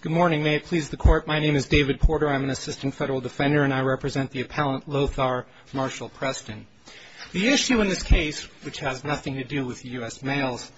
Good morning. May it please the court, my name is David Porter. I'm an assistant federal defender and I represent the appellant Lothar Marshall Preston. The issue in this case, which has nothing to do with U.S. mails,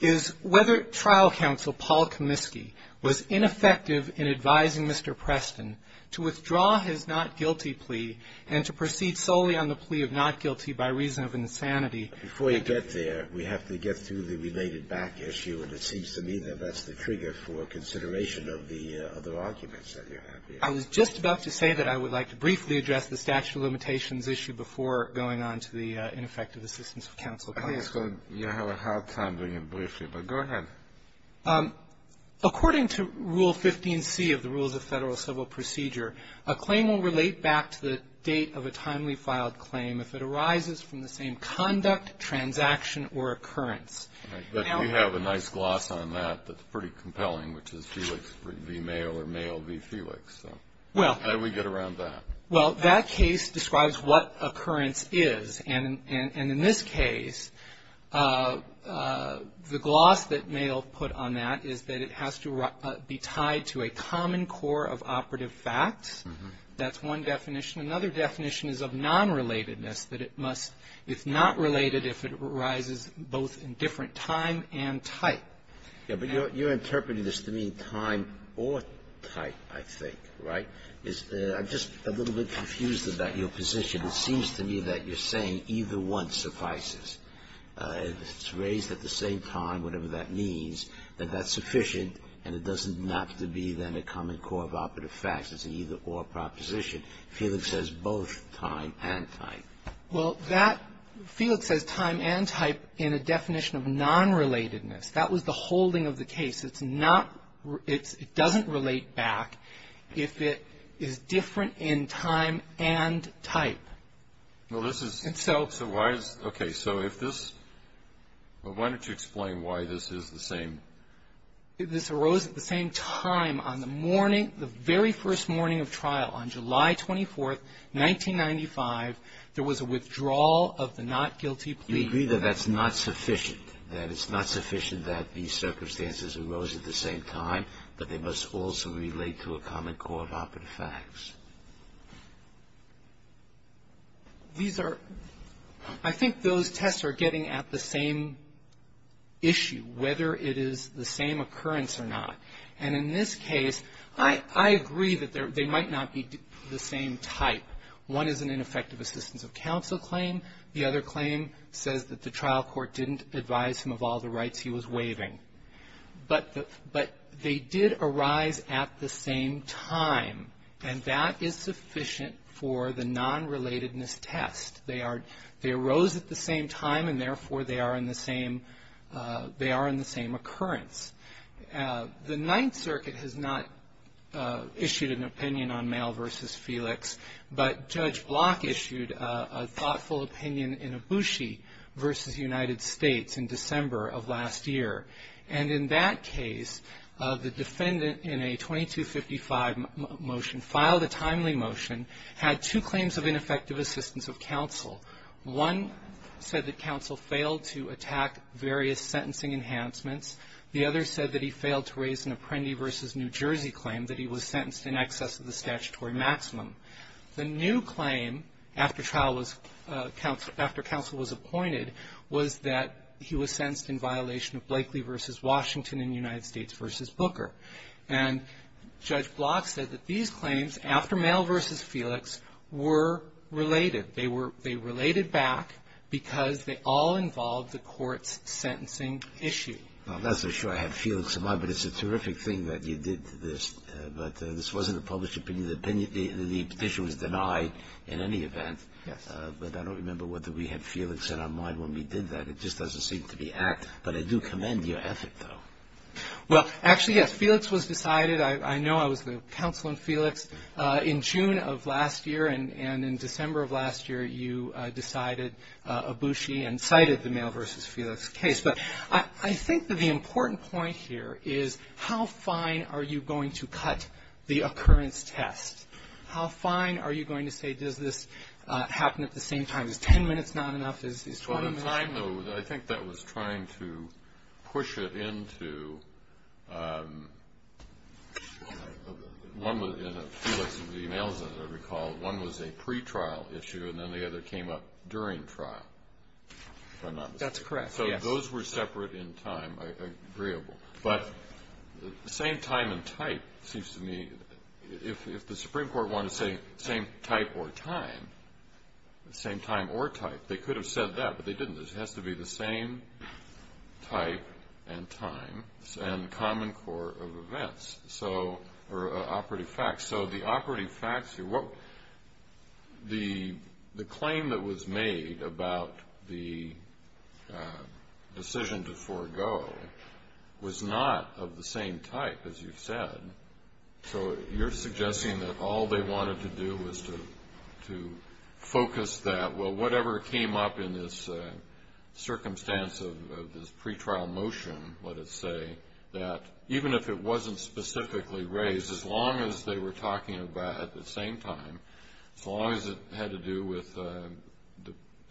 is whether trial counsel Paul Comiskey was ineffective in advising Mr. Preston to withdraw his not guilty plea and to proceed solely on the plea of not guilty by reason of insanity. Before you get there, we have to get through the related back issue, and it seems to me that that's the trigger for consideration of the other arguments that you have here. I was just about to say that I would like to briefly address the statute of limitations issue before going on to the ineffective assistance of counsel. I think it's going to be a hard time doing it briefly, but go ahead. According to Rule 15C of the Rules of Federal Civil Procedure, a claim will relate back to the date of a timely filed claim if it arises from the same conduct, transaction, or occurrence. But we have a nice gloss on that that's pretty compelling, which is Felix v. Mayo or Mayo v. Felix, so how do we get around that? Well, that case describes what occurrence is, and in this case, the gloss that Mayo put on that is that it has to be tied to a common core of operative facts. That's one definition. Another definition is of nonrelatedness, that it must, if not related, if it arises both in different time and type. Yes, but you're interpreting this to mean time or type, I think, right? I'm just a little bit confused about your position. It seems to me that you're saying either one suffices. It's raised at the same time, whatever that means, that that's sufficient and it doesn't have to be then a common core of operative facts. It's an either-or proposition. Felix says both time and type. Well, Felix says time and type in a definition of nonrelatedness. That was the holding of the case. It doesn't relate back if it is different in time and type. Well, this is – And so – Okay, so if this – well, why don't you explain why this is the same? This arose at the same time on the morning, the very first morning of trial on July 24th, 1995. There was a withdrawal of the not guilty plea. You agree that that's not sufficient, that it's not sufficient that these circumstances arose at the same time, but they must also relate to a common core of operative facts. These are – I think those tests are getting at the same issue, whether it is the same occurrence or not. And in this case, I agree that they might not be the same type. One is an ineffective assistance of counsel claim. The other claim says that the trial court didn't advise him of all the rights he was waiving. But they did arise at the same time, and that is sufficient for the nonrelatedness test. They are – they arose at the same time, and therefore, they are in the same – they are in the same occurrence. The Ninth Circuit has not issued an opinion on Mail v. Felix, but Judge Block issued a thoughtful opinion in Ibushi v. United States in December of last year. And in that case, the defendant in a 2255 motion, filed a timely motion, had two claims of ineffective assistance of counsel. One said that counsel failed to attack various sentencing enhancements. The other said that he failed to raise an Apprendi v. New Jersey claim, that he was sentenced in excess of the statutory maximum. The new claim, after trial was – after counsel was appointed, was that he was sentenced in violation of Blakeley v. Washington and United States v. Booker. And Judge Block said that these claims, after Mail v. Felix, were related. They were – they related back because they all involved the court's sentencing issue. Well, I'm not so sure I had Felix in mind, but it's a terrific thing that you did this. But this wasn't a published opinion. The petition was denied in any event. Yes. But I don't remember whether we had Felix in our mind when we did that. It just doesn't seem to be apt. But I do commend your ethic, though. Well, actually, yes, Felix was decided. I know I was the counsel in Felix in June of last year, and in December of last year, you decided, Ibushi, and cited the Mail v. Felix case. But I think that the important point here is how fine are you going to cut the occurrence test? How fine are you going to say, does this happen at the same time? Is 10 minutes not enough? Is 20 minutes not enough? I think that was trying to push it into – in Felix's emails, as I recall, one was a pretrial issue and then the other came up during trial. That's correct, yes. So those were separate in time, agreeable. But the same time and type seems to me – if the Supreme Court wanted to say same type or time, same time or type, they could have said that, but they didn't. It has to be the same type and time and common core of events or operative facts. So the operative facts here – the claim that was made about the decision to forego was not of the same type, as you've said. So you're suggesting that all they wanted to do was to focus that – the circumstance of this pretrial motion, let us say, that even if it wasn't specifically raised, as long as they were talking about it at the same time, as long as it had to do with the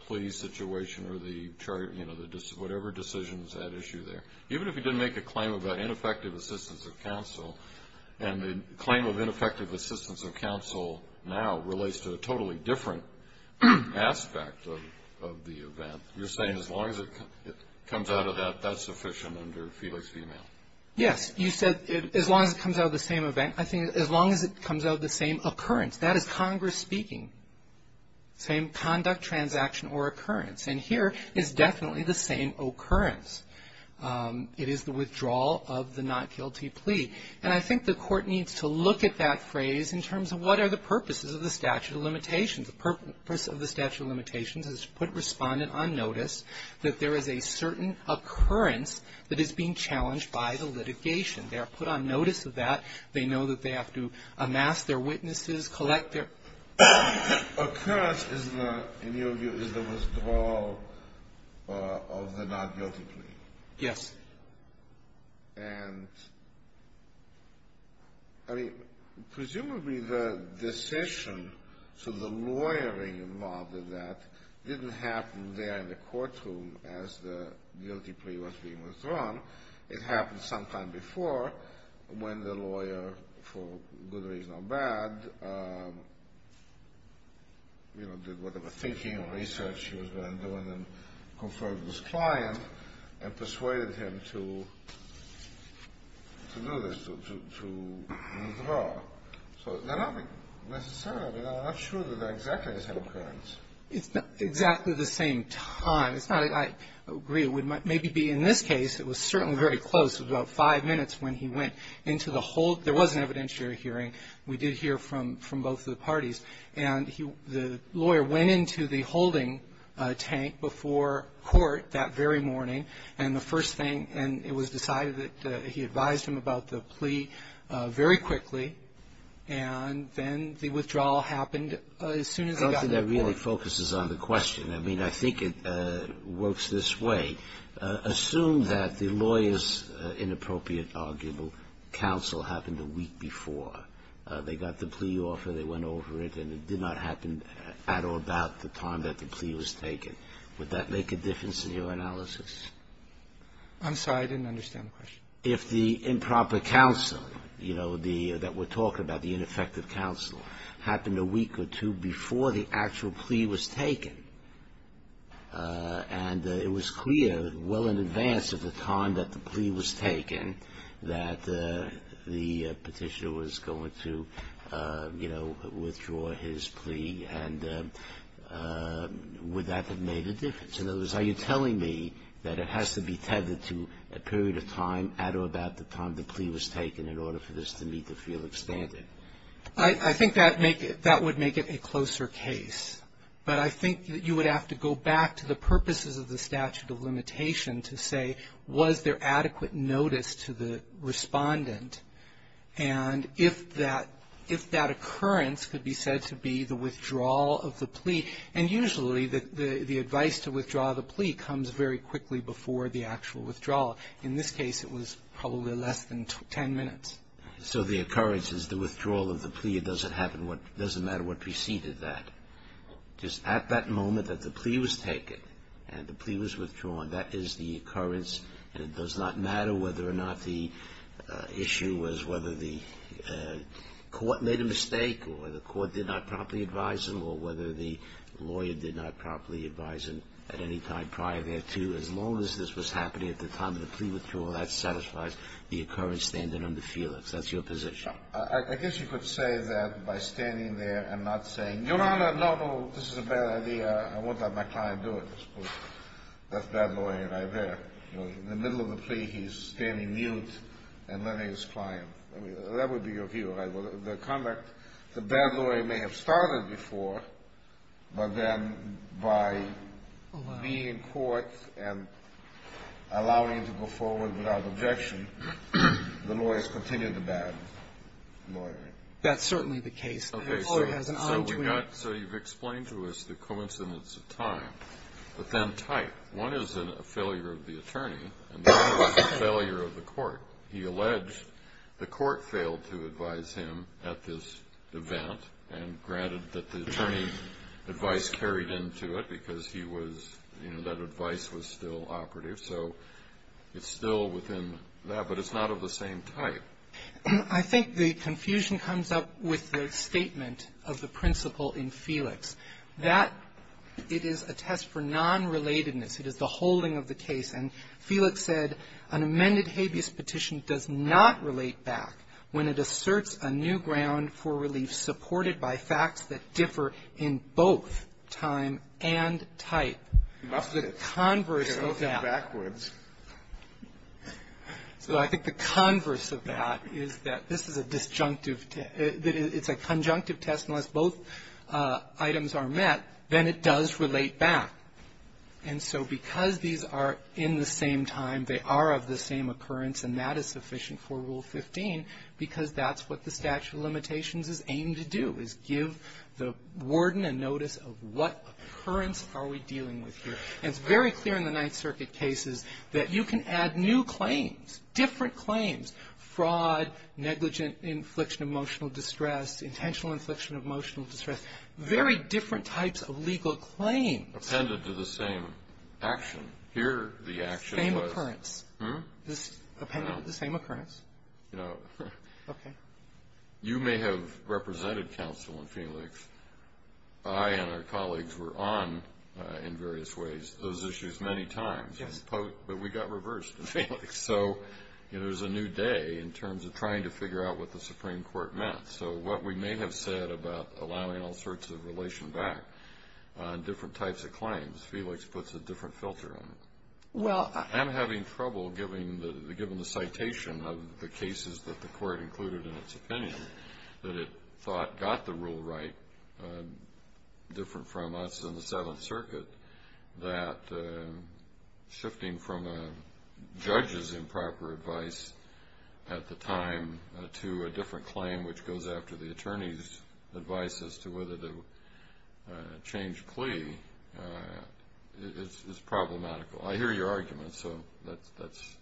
plea situation or the charge – whatever decision was at issue there, even if you didn't make a claim about ineffective assistance of counsel and the claim of ineffective assistance of counsel now relates to a totally different aspect of the event, you're saying as long as it comes out of that, that's sufficient under Felix v. Mail? Yes. You said as long as it comes out of the same event. I think as long as it comes out of the same occurrence. That is Congress speaking. Same conduct, transaction, or occurrence. And here is definitely the same occurrence. It is the withdrawal of the not guilty plea. And I think the Court needs to look at that phrase in terms of what are the purposes of the statute of limitations. The purpose of the statute of limitations is to put Respondent on notice that there is a certain occurrence that is being challenged by the litigation. They are put on notice of that. They know that they have to amass their witnesses, collect their – Occurrence is the, in your view, is the withdrawal of the not guilty plea. Yes. And, I mean, presumably the decision to the lawyering involved in that didn't happen there in the courtroom as the guilty plea was being withdrawn. It happened sometime before when the lawyer, for good reason or bad, you know, did whatever thinking or research he was going to do and then conferred with his client and persuaded him to do this, to withdraw. So they're not necessarily, I mean, I'm not sure that they're exactly the same occurrence. It's not exactly the same time. It's not, I agree, it would maybe be in this case, it was certainly very close. It was about five minutes when he went into the hold. There was an evidentiary hearing. We did hear from both of the parties. And the lawyer went into the holding tank before court that very morning. And the first thing, and it was decided that he advised him about the plea very quickly. And then the withdrawal happened as soon as he got to the point. I don't think that really focuses on the question. I mean, I think it works this way. Assume that the lawyer's inappropriate arguable counsel happened a week before. They got the plea offer. They went over it. And it did not happen at or about the time that the plea was taken. Would that make a difference in your analysis? I'm sorry. I didn't understand the question. If the improper counsel, you know, that we're talking about, the ineffective counsel, happened a week or two before the actual plea was taken, and it was clear well in advance of the time that the plea was taken that the Petitioner was going to, you know, withdraw his plea, and would that have made a difference? In other words, are you telling me that it has to be tethered to a period of time at or about the time the plea was taken in order for this to meet the Felix standard? I think that would make it a closer case. But I think that you would have to go back to the purposes of the statute of limitation to say was there adequate notice to the respondent. And if that occurrence could be said to be the withdrawal of the plea, and usually the advice to withdraw the plea comes very quickly before the actual withdrawal. In this case, it was probably less than ten minutes. So the occurrence is the withdrawal of the plea. It doesn't matter what preceded that. Just at that moment that the plea was taken and the plea was withdrawn, that is the occurrence. It does not matter whether or not the issue was whether the court made a mistake or the court did not properly advise him or whether the lawyer did not properly advise him at any time prior thereto. As long as this was happening at the time of the plea withdrawal, that satisfies the occurrence standard under Felix. That's your position. I guess you could say that by standing there and not saying, Your Honor, no, no, this is a bad idea. I won't let my client do it. That's bad lawyering right there. In the middle of the plea, he's standing mute and letting his client. That would be your view. The conduct, the bad lawyer may have started before, but then by being in court and allowing him to go forward without objection, the lawyers continue the bad lawyering. That's certainly the case. Okay. So you've explained to us the coincidence of time, but then type. One is a failure of the attorney and the other is a failure of the court. He alleged the court failed to advise him at this event and granted that the attorney's advice carried into it because he was, you know, that advice was still operative. So it's still within that, but it's not of the same type. I think the confusion comes up with the statement of the principle in Felix. That it is a test for nonrelatedness. It is the holding of the case. And Felix said an amended habeas petition does not relate back when it asserts a new ground for relief supported by facts that differ in both time and type. It's a converse of that. So I think the converse of that is that this is a disjunctive test. It's a conjunctive test. Unless both items are met, then it does relate back. And so because these are in the same time, they are of the same occurrence, and that is sufficient for Rule 15 because that's what the statute of limitations is aiming to do, is give the warden a notice of what occurrence are we dealing with here. And it's very clear in the Ninth Circuit cases that you can add new claims, different claims, fraud, negligent infliction of emotional distress, intentional infliction of emotional distress, very different types of legal claims. Kennedy. Appended to the same action. Here the action was the same occurrence. No. Okay. You may have represented counsel in Felix. I and our colleagues were on in various ways those issues many times. Yes. But we got reversed in Felix. So, you know, it was a new day in terms of trying to figure out what the Supreme Court meant. So what we may have said about allowing all sorts of relation back on different types of claims, Felix puts a different filter on it. I'm having trouble, given the citation of the cases that the court included in its opinion, that it thought got the rule right, different from us in the Seventh Circuit, that shifting from a judge's improper advice at the time to a different claim, which goes after the attorney's advice as to whether to change plea is problematical. I hear your argument. So that's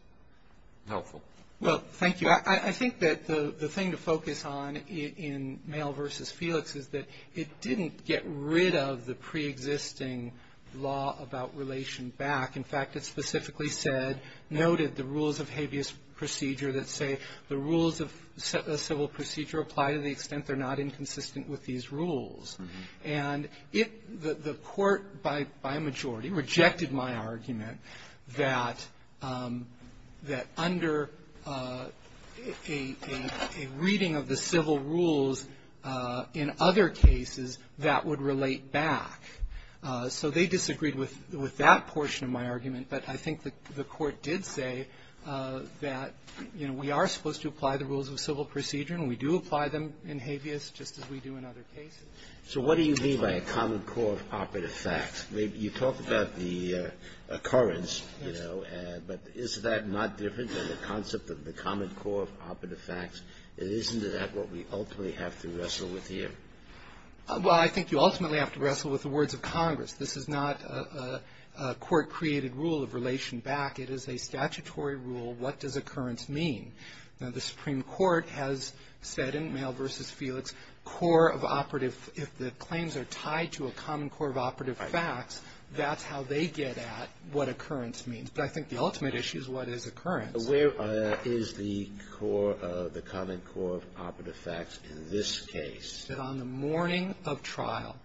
helpful. Well, thank you. I think that the thing to focus on in Male v. Felix is that it didn't get rid of the preexisting law about relation back. In fact, it specifically said, noted the rules of habeas procedure that say the rules of civil procedure apply to the extent they're not inconsistent with these rules. And it the court, by majority, rejected my argument that under a reading of the civil rules in other cases, that would relate back. So they disagreed with that portion of my argument. But I think the court did say that, you know, we are supposed to apply the rules of civil procedure, and we do apply them in habeas, just as we do in other cases. So what do you mean by a common core of operative facts? You talk about the occurrence, you know, but is that not different than the concept of the common core of operative facts? Isn't that what we ultimately have to wrestle with here? Well, I think you ultimately have to wrestle with the words of Congress. This is not a court-created rule of relation back. It is a statutory rule. What does occurrence mean? Now, the Supreme Court has said in Mayo v. Felix, core of operative if the claims are tied to a common core of operative facts, that's how they get at what occurrence means. But I think the ultimate issue is what is occurrence. But where is the core of the common core of operative facts in this case? On the morning of trial,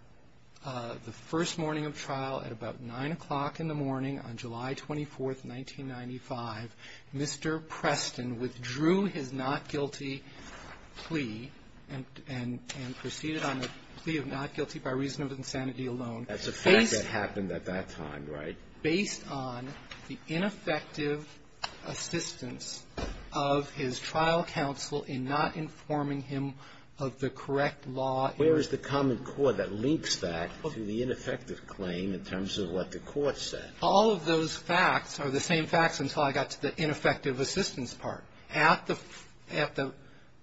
the first morning of trial at about 9 o'clock in the morning on July 24th, 1995, Mr. Preston withdrew his not guilty plea and proceeded on the plea of not guilty by reason of insanity alone. That's a fact that happened at that time, right? Based on the ineffective assistance of his trial counsel in not informing him of the correct law. Where is the common core that links that to the ineffective claim in terms of what the court said? All of those facts are the same facts until I got to the ineffective assistance part. At the,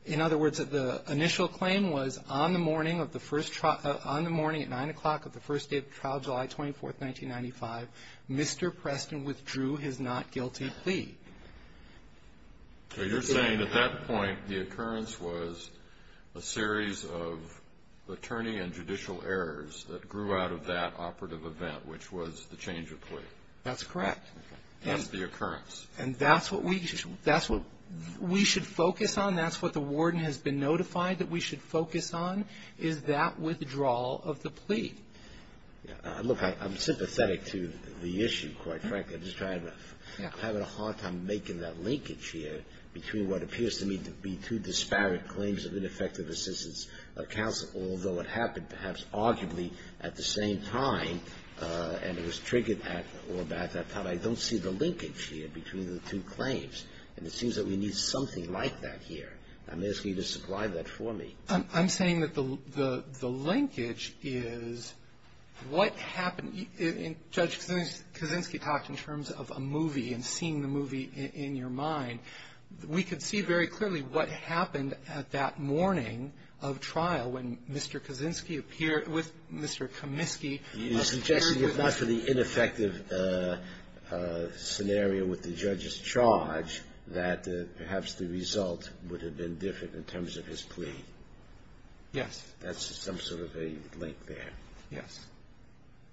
in other words, the initial claim was on the morning of the first, on the morning at 9 o'clock of the first day of trial, July 24th, 1995, Mr. Preston withdrew his not guilty plea. So you're saying at that point the occurrence was a series of attorney and judicial errors that grew out of that operative event, which was the change of plea? That's correct. That's the occurrence. And that's what we, that's what we should focus on, that's what the warden has been notified that we should focus on, is that withdrawal of the plea. Look, I'm sympathetic to the issue, quite frankly. I'm just having a hard time making that linkage here between what appears to me to be two disparate claims of ineffective assistance of counsel, although it happened perhaps arguably at the same time, and it was triggered at or about that time. I don't see the linkage here between the two claims. And it seems that we need something like that here. I'm asking you to supply that for me. I'm saying that the linkage is what happened. Judge Kaczynski talked in terms of a movie and seeing the movie in your mind. We could see very clearly what happened at that morning of trial when Mr. Kaczynski appeared with Mr. Kaminsky. You're suggesting if not for the ineffective scenario with the judge's charge, that perhaps the result would have been different in terms of his plea? Yes. That's some sort of a link there. Yes.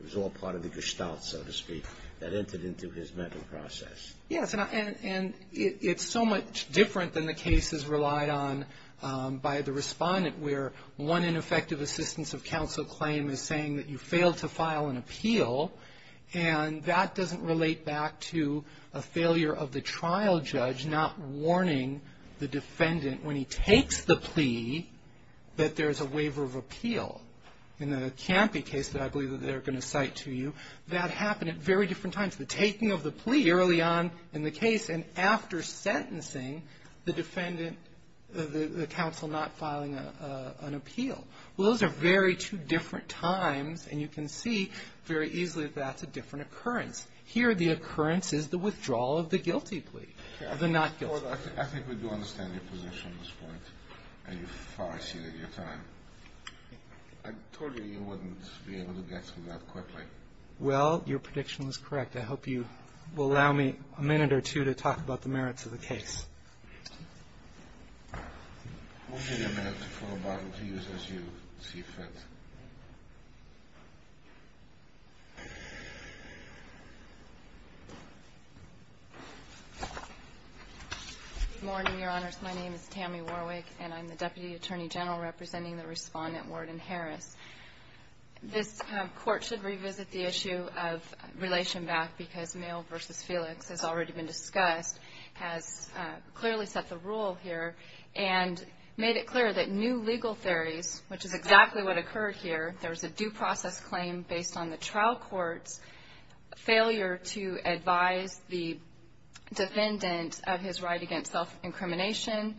It was all part of the gestalt, so to speak, that entered into his mental process. Yes. And it's so much different than the cases relied on by the respondent where one ineffective assistance of counsel claim is saying that you failed to file an appeal, and that doesn't relate back to a failure of the trial judge not warning the defendant when he takes the plea that there's a waiver of appeal. In the Campy case that I believe that they're going to cite to you, that happened at very different times. The taking of the plea early on in the case and after sentencing the defendant, the counsel not filing an appeal. Those are very two different times, and you can see very easily that that's a different occurrence. Here the occurrence is the withdrawal of the guilty plea, of the not guilty plea. I think we do understand your position at this point, and you far exceeded your time. I told you you wouldn't be able to get through that quickly. Well, your prediction was correct. I hope you will allow me a minute or two to talk about the merits of the case. We'll give you a minute to fill a bottle to use as you see fit. Good morning, Your Honors. My name is Tammy Warwick, and I'm the Deputy Attorney General representing the Respondent, Warden Harris. This court should revisit the issue of relation back because Mail v. Felix has already been discussed, has clearly set the rule here, and made it clear that new legal theories, which is exactly what occurred here. There was a due process claim based on the trial court's failure to advise the defendant of his right against self-incrimination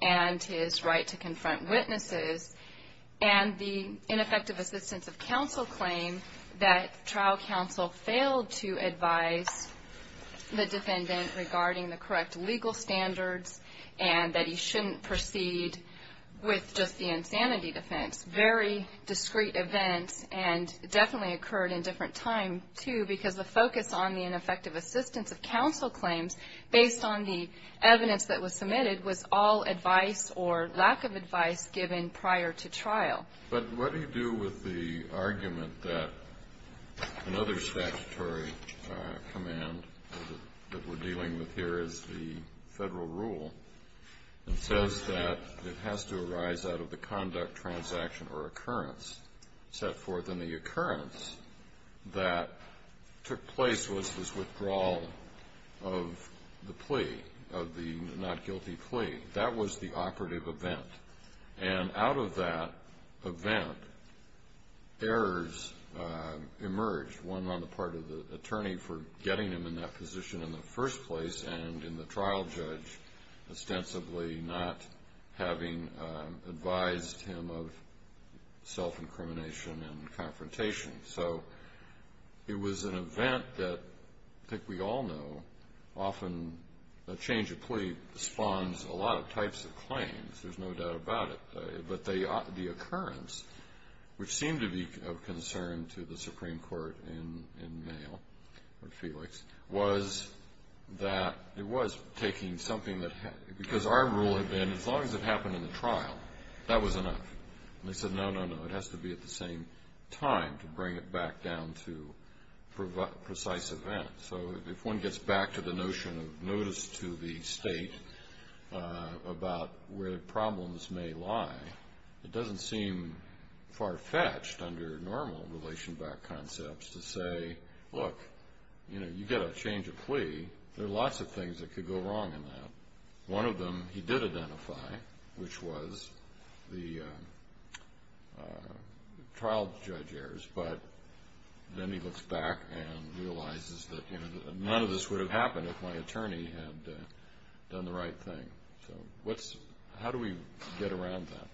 and his right to confront witnesses, and the ineffective assistance of counsel claim that trial counsel failed to advise the defendant regarding the correct legal standards and that he shouldn't proceed with just the insanity defense. Very discrete events, and definitely occurred in different time, too, because the focus on the ineffective assistance of counsel claims, based on the evidence that was submitted, was all advice or lack of advice given prior to trial. But what do you do with the argument that another statutory command that we're dealing with here is the Federal rule that says that it has to arise out of the conduct, transaction, or occurrence set forth in the occurrence that took place was this withdrawal of the plea, of the not guilty plea. That was the operative event. And out of that event, errors emerged, one on the part of the attorney for getting him in that position in the first place, and in the trial judge ostensibly not having advised him of self-incrimination and confrontation. So it was an event that I think we all know often a change of plea spawns a lot of types of claims. There's no doubt about it. But the occurrence, which seemed to be of concern to the Supreme Court in Mayo, or Felix, was that it was taking something that had, because our rule had been as long as it happened in the trial, that was enough. And they said, no, no, no. It has to be at the same time to bring it back down to precise event. So if one gets back to the notion of notice to the state about where problems may lie, it doesn't seem far-fetched under normal relation back concepts to say, look, you know, you get a change of plea. There are lots of things that could go wrong in that. One of them he did identify, which was the trial judge errors. But then he looks back and realizes that none of this would have happened if my attorney had done the right thing. So how do we get around that?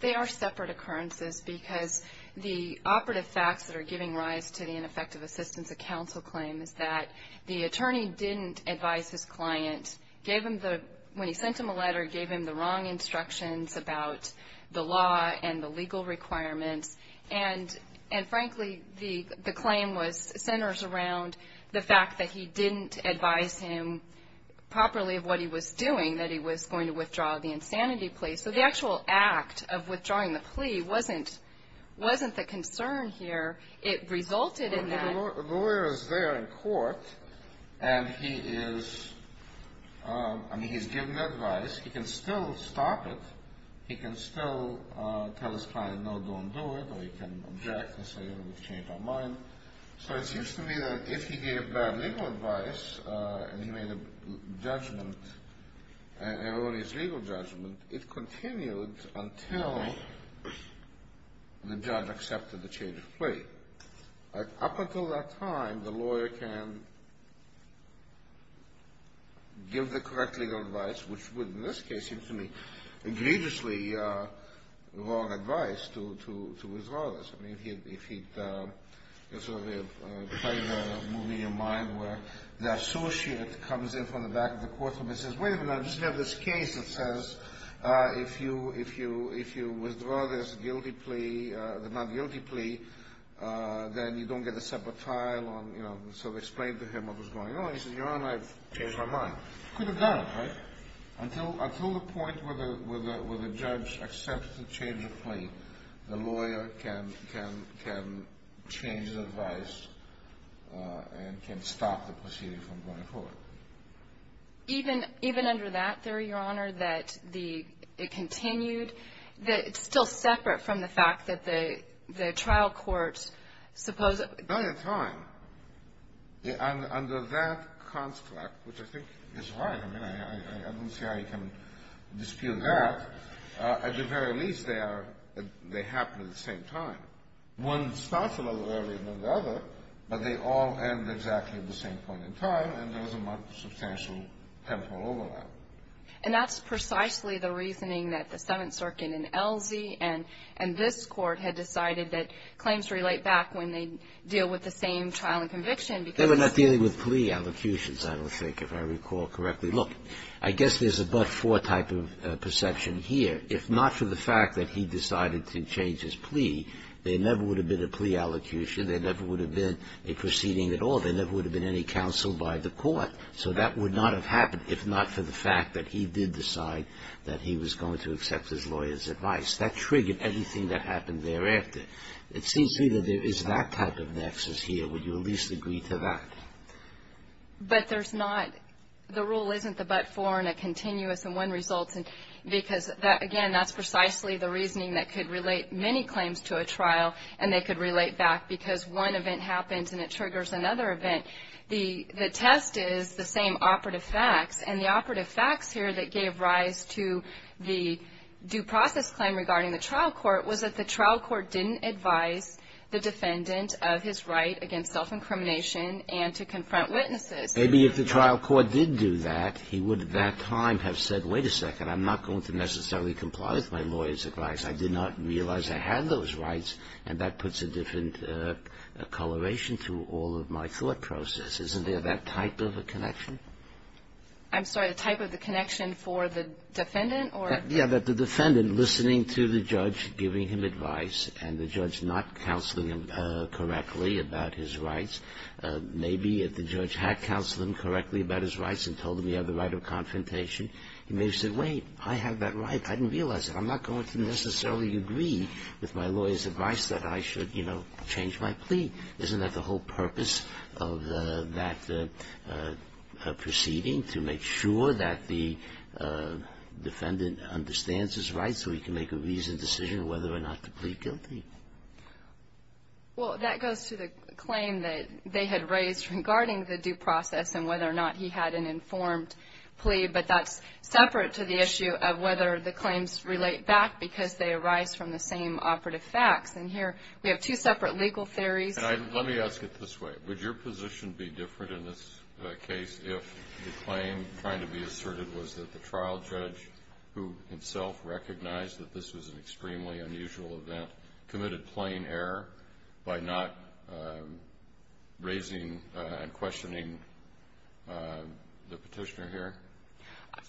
They are separate occurrences because the operative facts that are giving rise to the ineffective assistance of counsel claim is that the attorney didn't advise his client, when he sent him a letter, gave him the wrong instructions about the law and the legal requirements. And, frankly, the claim centers around the fact that he didn't advise him properly of what he was doing, that he was going to withdraw the insanity plea. So the actual act of withdrawing the plea wasn't the concern here. It resulted in that. So the lawyer is there in court, and he is giving advice. He can still stop it. He can still tell his client, no, don't do it, or he can object and say, you know, we've changed our mind. So it seems to me that if he gave bad legal advice and he made a judgment, an erroneous legal judgment, it continued until the judge accepted the change of plea. Up until that time, the lawyer can give the correct legal advice, which would in this case seem to me egregiously wrong advice to withdraw this. I mean, if he'd played a movie of mine where the associate comes in from the back of the courtroom and says, wait a minute, I just have this case that says if you withdraw this guilty plea, the not guilty plea, then you don't get a separate trial. So they explained to him what was going on. He said, Your Honor, I've changed my mind. He could have done it, right, until the point where the judge accepts the change of plea. The lawyer can change the advice and can stop the proceeding from going forward. Even under that theory, Your Honor, that the — it continued, that it's still separate from the fact that the trial court supposed — By the time, under that construct, which I think is right. I mean, I don't see how you can dispute that. At the very least, they are — they happen at the same time. One starts a little earlier than the other, but they all end exactly at the same point in time, and there's a much substantial temporal overlap. And that's precisely the reasoning that the Seventh Circuit in Elsie and this court had decided that claims relate back when they deal with the same trial and conviction because — They were not dealing with plea allocutions, I would think, if I recall correctly. Look, I guess there's a but-for type of perception here. If not for the fact that he decided to change his plea, there never would have been a plea allocution. There never would have been a proceeding at all. There never would have been any counsel by the court. So that would not have happened if not for the fact that he did decide that he was going to accept his lawyer's advice. That triggered anything that happened thereafter. It seems to me that there is that type of nexus here. Would you at least agree to that? But there's not — the rule isn't the but-for and a continuous and one result, because, again, that's precisely the reasoning that could relate many claims to a trial, and they could relate back because one event happens and it triggers another event. The test is the same operative facts. And the operative facts here that gave rise to the due process claim regarding the trial court was that the trial court didn't advise the defendant of his right against self-incrimination and to confront witnesses. Maybe if the trial court did do that, he would at that time have said, wait a second, I'm not going to necessarily comply with my lawyer's advice. I did not realize I had those rights. And that puts a different coloration to all of my thought process. Isn't there that type of a connection? I'm sorry. The type of the connection for the defendant or — Yeah, that the defendant, listening to the judge giving him advice, and the judge not counseling him correctly about his rights. Maybe if the judge had counseled him correctly about his rights and told him he had the right of confrontation, he may have said, wait, I have that right. I didn't realize it. I'm not going to necessarily agree with my lawyer's advice that I should, you know, change my plea. Isn't that the whole purpose of that proceeding, to make sure that the defendant understands his rights so he can make a reasoned decision whether or not to plead guilty? Well, that goes to the claim that they had raised regarding the due process and whether or not he had an informed plea. But that's separate to the issue of whether the claims relate back because they arise from the same operative facts. And here we have two separate legal theories. Let me ask it this way. Would your position be different in this case if the claim trying to be asserted was that the trial judge, who himself recognized that this was an extremely unusual event, committed plain error by not raising and questioning the petitioner here,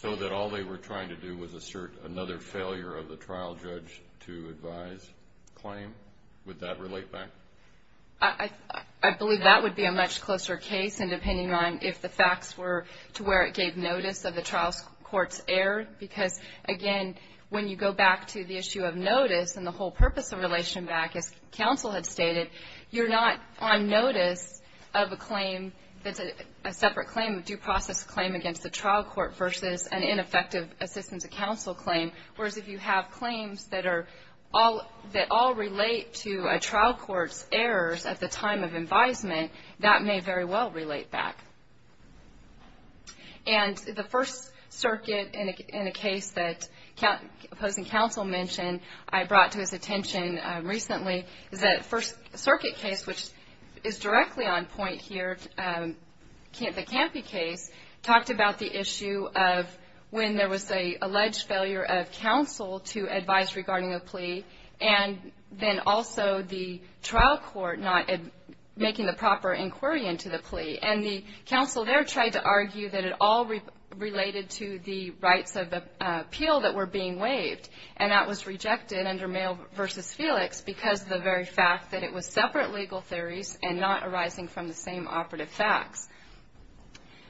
so that all they were trying to do was assert another failure of the trial judge to advise claim? Would that relate back? I believe that would be a much closer case, and depending on if the facts were to where it gave notice of the trial court's error. Because, again, when you go back to the issue of notice and the whole purpose of relation back, as counsel had stated, you're not on notice of a claim that's a separate claim, a due process claim against the trial court versus an ineffective assistance of counsel claim. Whereas if you have claims that are all relate to a trial court's errors at the time of advisement, that may very well relate back. And the First Circuit, in a case that opposing counsel mentioned, I brought to his attention recently, is that First Circuit case, which is directly on point here, the Campy case, talked about the issue of when there was an alleged failure of counsel to advise regarding a plea, and then also the trial court not making the proper inquiry into the plea. And the counsel there tried to argue that it all related to the rights of appeal that were being waived, and that was rejected under Mayo v. Felix because of the very fact that it was separate legal theories and not arising from the same operative facts.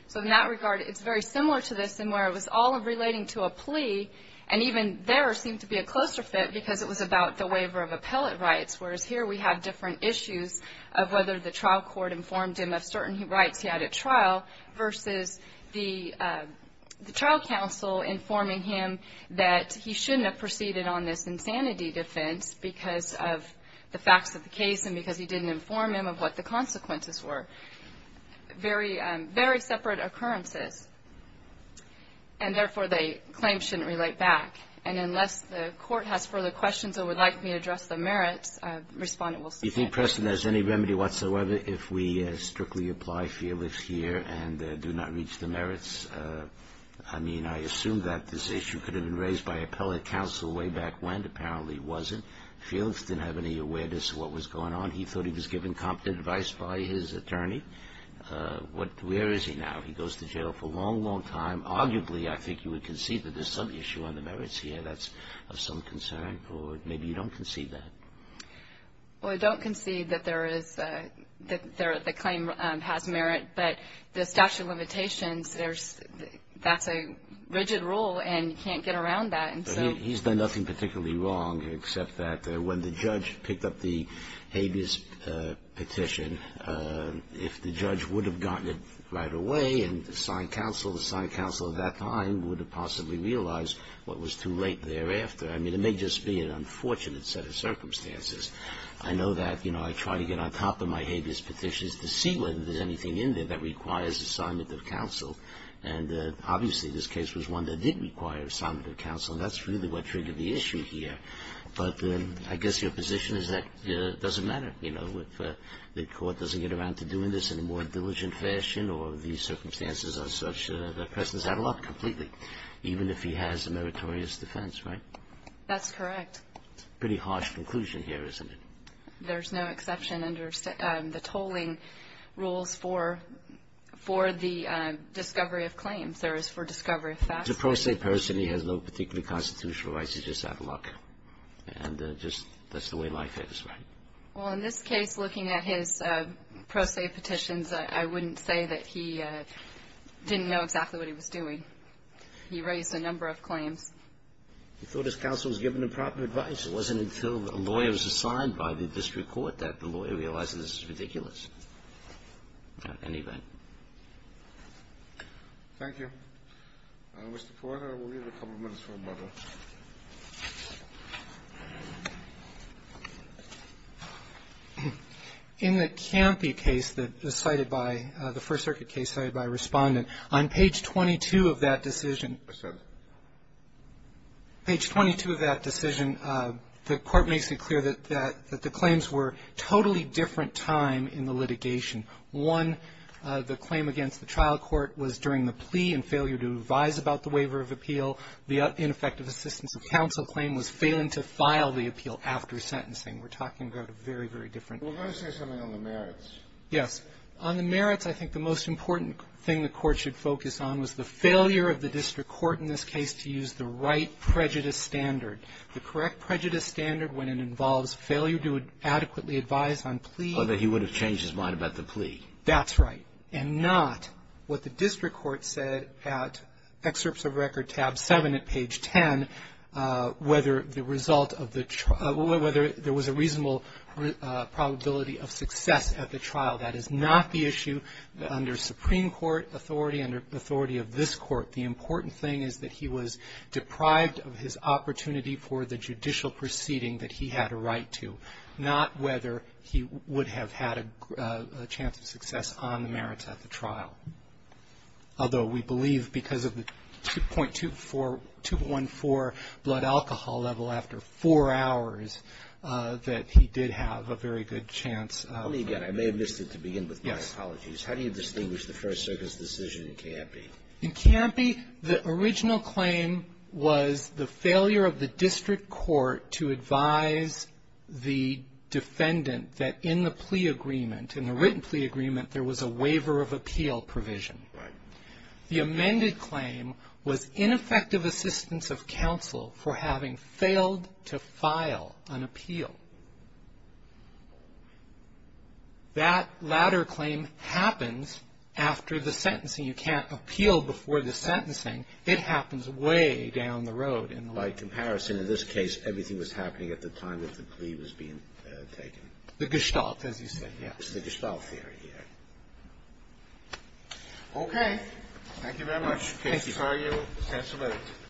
So in that regard, it's very similar to this in where it was all relating to a plea, and even there seemed to be a closer fit because it was about the waiver of appellate rights, whereas here we have different issues of whether the trial court informed him of certain rights he had at trial versus the trial counsel informing him that he shouldn't have proceeded on this insanity defense because of the facts of the case and because he didn't inform him of what the consequences were. Very separate occurrences, and therefore the claims shouldn't relate back. And unless the Court has further questions or would like me to address the merits, Respondent Wilson. Do you think, Preston, there's any remedy whatsoever if we strictly apply Felix here and do not reach the merits? I mean, I assume that this issue could have been raised by appellate counsel way back when. Apparently it wasn't. Felix didn't have any awareness of what was going on. He thought he was given competent advice by his attorney. Where is he now? He goes to jail for a long, long time. Arguably, I think you would concede that there's some issue on the merits here. That's of some concern. Or maybe you don't concede that. Well, I don't concede that the claim has merit. But the statute of limitations, that's a rigid rule, and you can't get around that. He's done nothing particularly wrong except that when the judge picked up the habeas petition, if the judge would have gotten it right away and assigned counsel, the assigned counsel at that time would have possibly realized what was too late thereafter. I mean, it may just be an unfortunate set of circumstances. I know that, you know, I try to get on top of my habeas petitions to see whether there's anything in there that requires assignment of counsel. And obviously this case was one that did require assignment of counsel, and that's really what triggered the issue here. But I guess your position is that it doesn't matter, you know, if the court doesn't get around to doing this in a more diligent fashion or the circumstances are such that the person is out of luck completely, even if he has a meritorious defense, right? That's correct. Pretty harsh conclusion here, isn't it? There's no exception under the tolling rules for the discovery of claims. There is for discovery of facts. If it's a pro se person, he has no particular constitutional rights. He's just out of luck. And just that's the way life is, right? Well, in this case, looking at his pro se petitions, I wouldn't say that he didn't know exactly what he was doing. He raised a number of claims. He thought his counsel was given the proper advice. It wasn't until a lawyer was assigned by the district court that the lawyer realized that this was ridiculous. Anyway. Thank you. Mr. Porter, we'll give you a couple of minutes for rebuttal. In the Campy case that was cited by the First Circuit case cited by Respondent, on page 22 of that decision. What's that? Page 22 of that decision, the court makes it clear that the claims were totally different time in the litigation. One, the claim against the trial court was during the plea and failure to advise about the waiver of appeal. The ineffective assistance of counsel claim was failing to file the appeal after sentencing. We're talking about a very, very different. We're going to say something on the merits. Yes. On the merits, I think the most important thing the Court should focus on was the failure of the district court in this case to use the right prejudice standard. The correct prejudice standard when it involves failure to adequately advise on plea. Or that he would have changed his mind about the plea. That's right. And not what the district court said at excerpts of record tab 7 at page 10, whether the result of the trial, whether there was a reasonable probability of success at the trial. That is not the issue under Supreme Court authority, under authority of this court. The important thing is that he was deprived of his opportunity for the judicial proceeding that he had a right to. Not whether he would have had a chance of success on the merits at the trial. Although we believe because of the 2.214 blood alcohol level after four hours that he did have a very good chance. Let me again. I may have missed it to begin with. Yes. My apologies. How do you distinguish the First Circuit's decision in Campi? In Campi, the original claim was the failure of the district court to advise the defendant that in the plea agreement, in the written plea agreement, there was a waiver of appeal provision. Right. The amended claim was ineffective assistance of counsel for having failed to file an appeal. That latter claim happens after the sentencing. You can't appeal before the sentencing. It happens way down the road. By comparison, in this case, everything was happening at the time that the plea was being taken. The gestalt, as you say. Yes. It's the gestalt theory. Yes. Okay. Thank you very much. Thank you. Case is argued. Sensible evidence.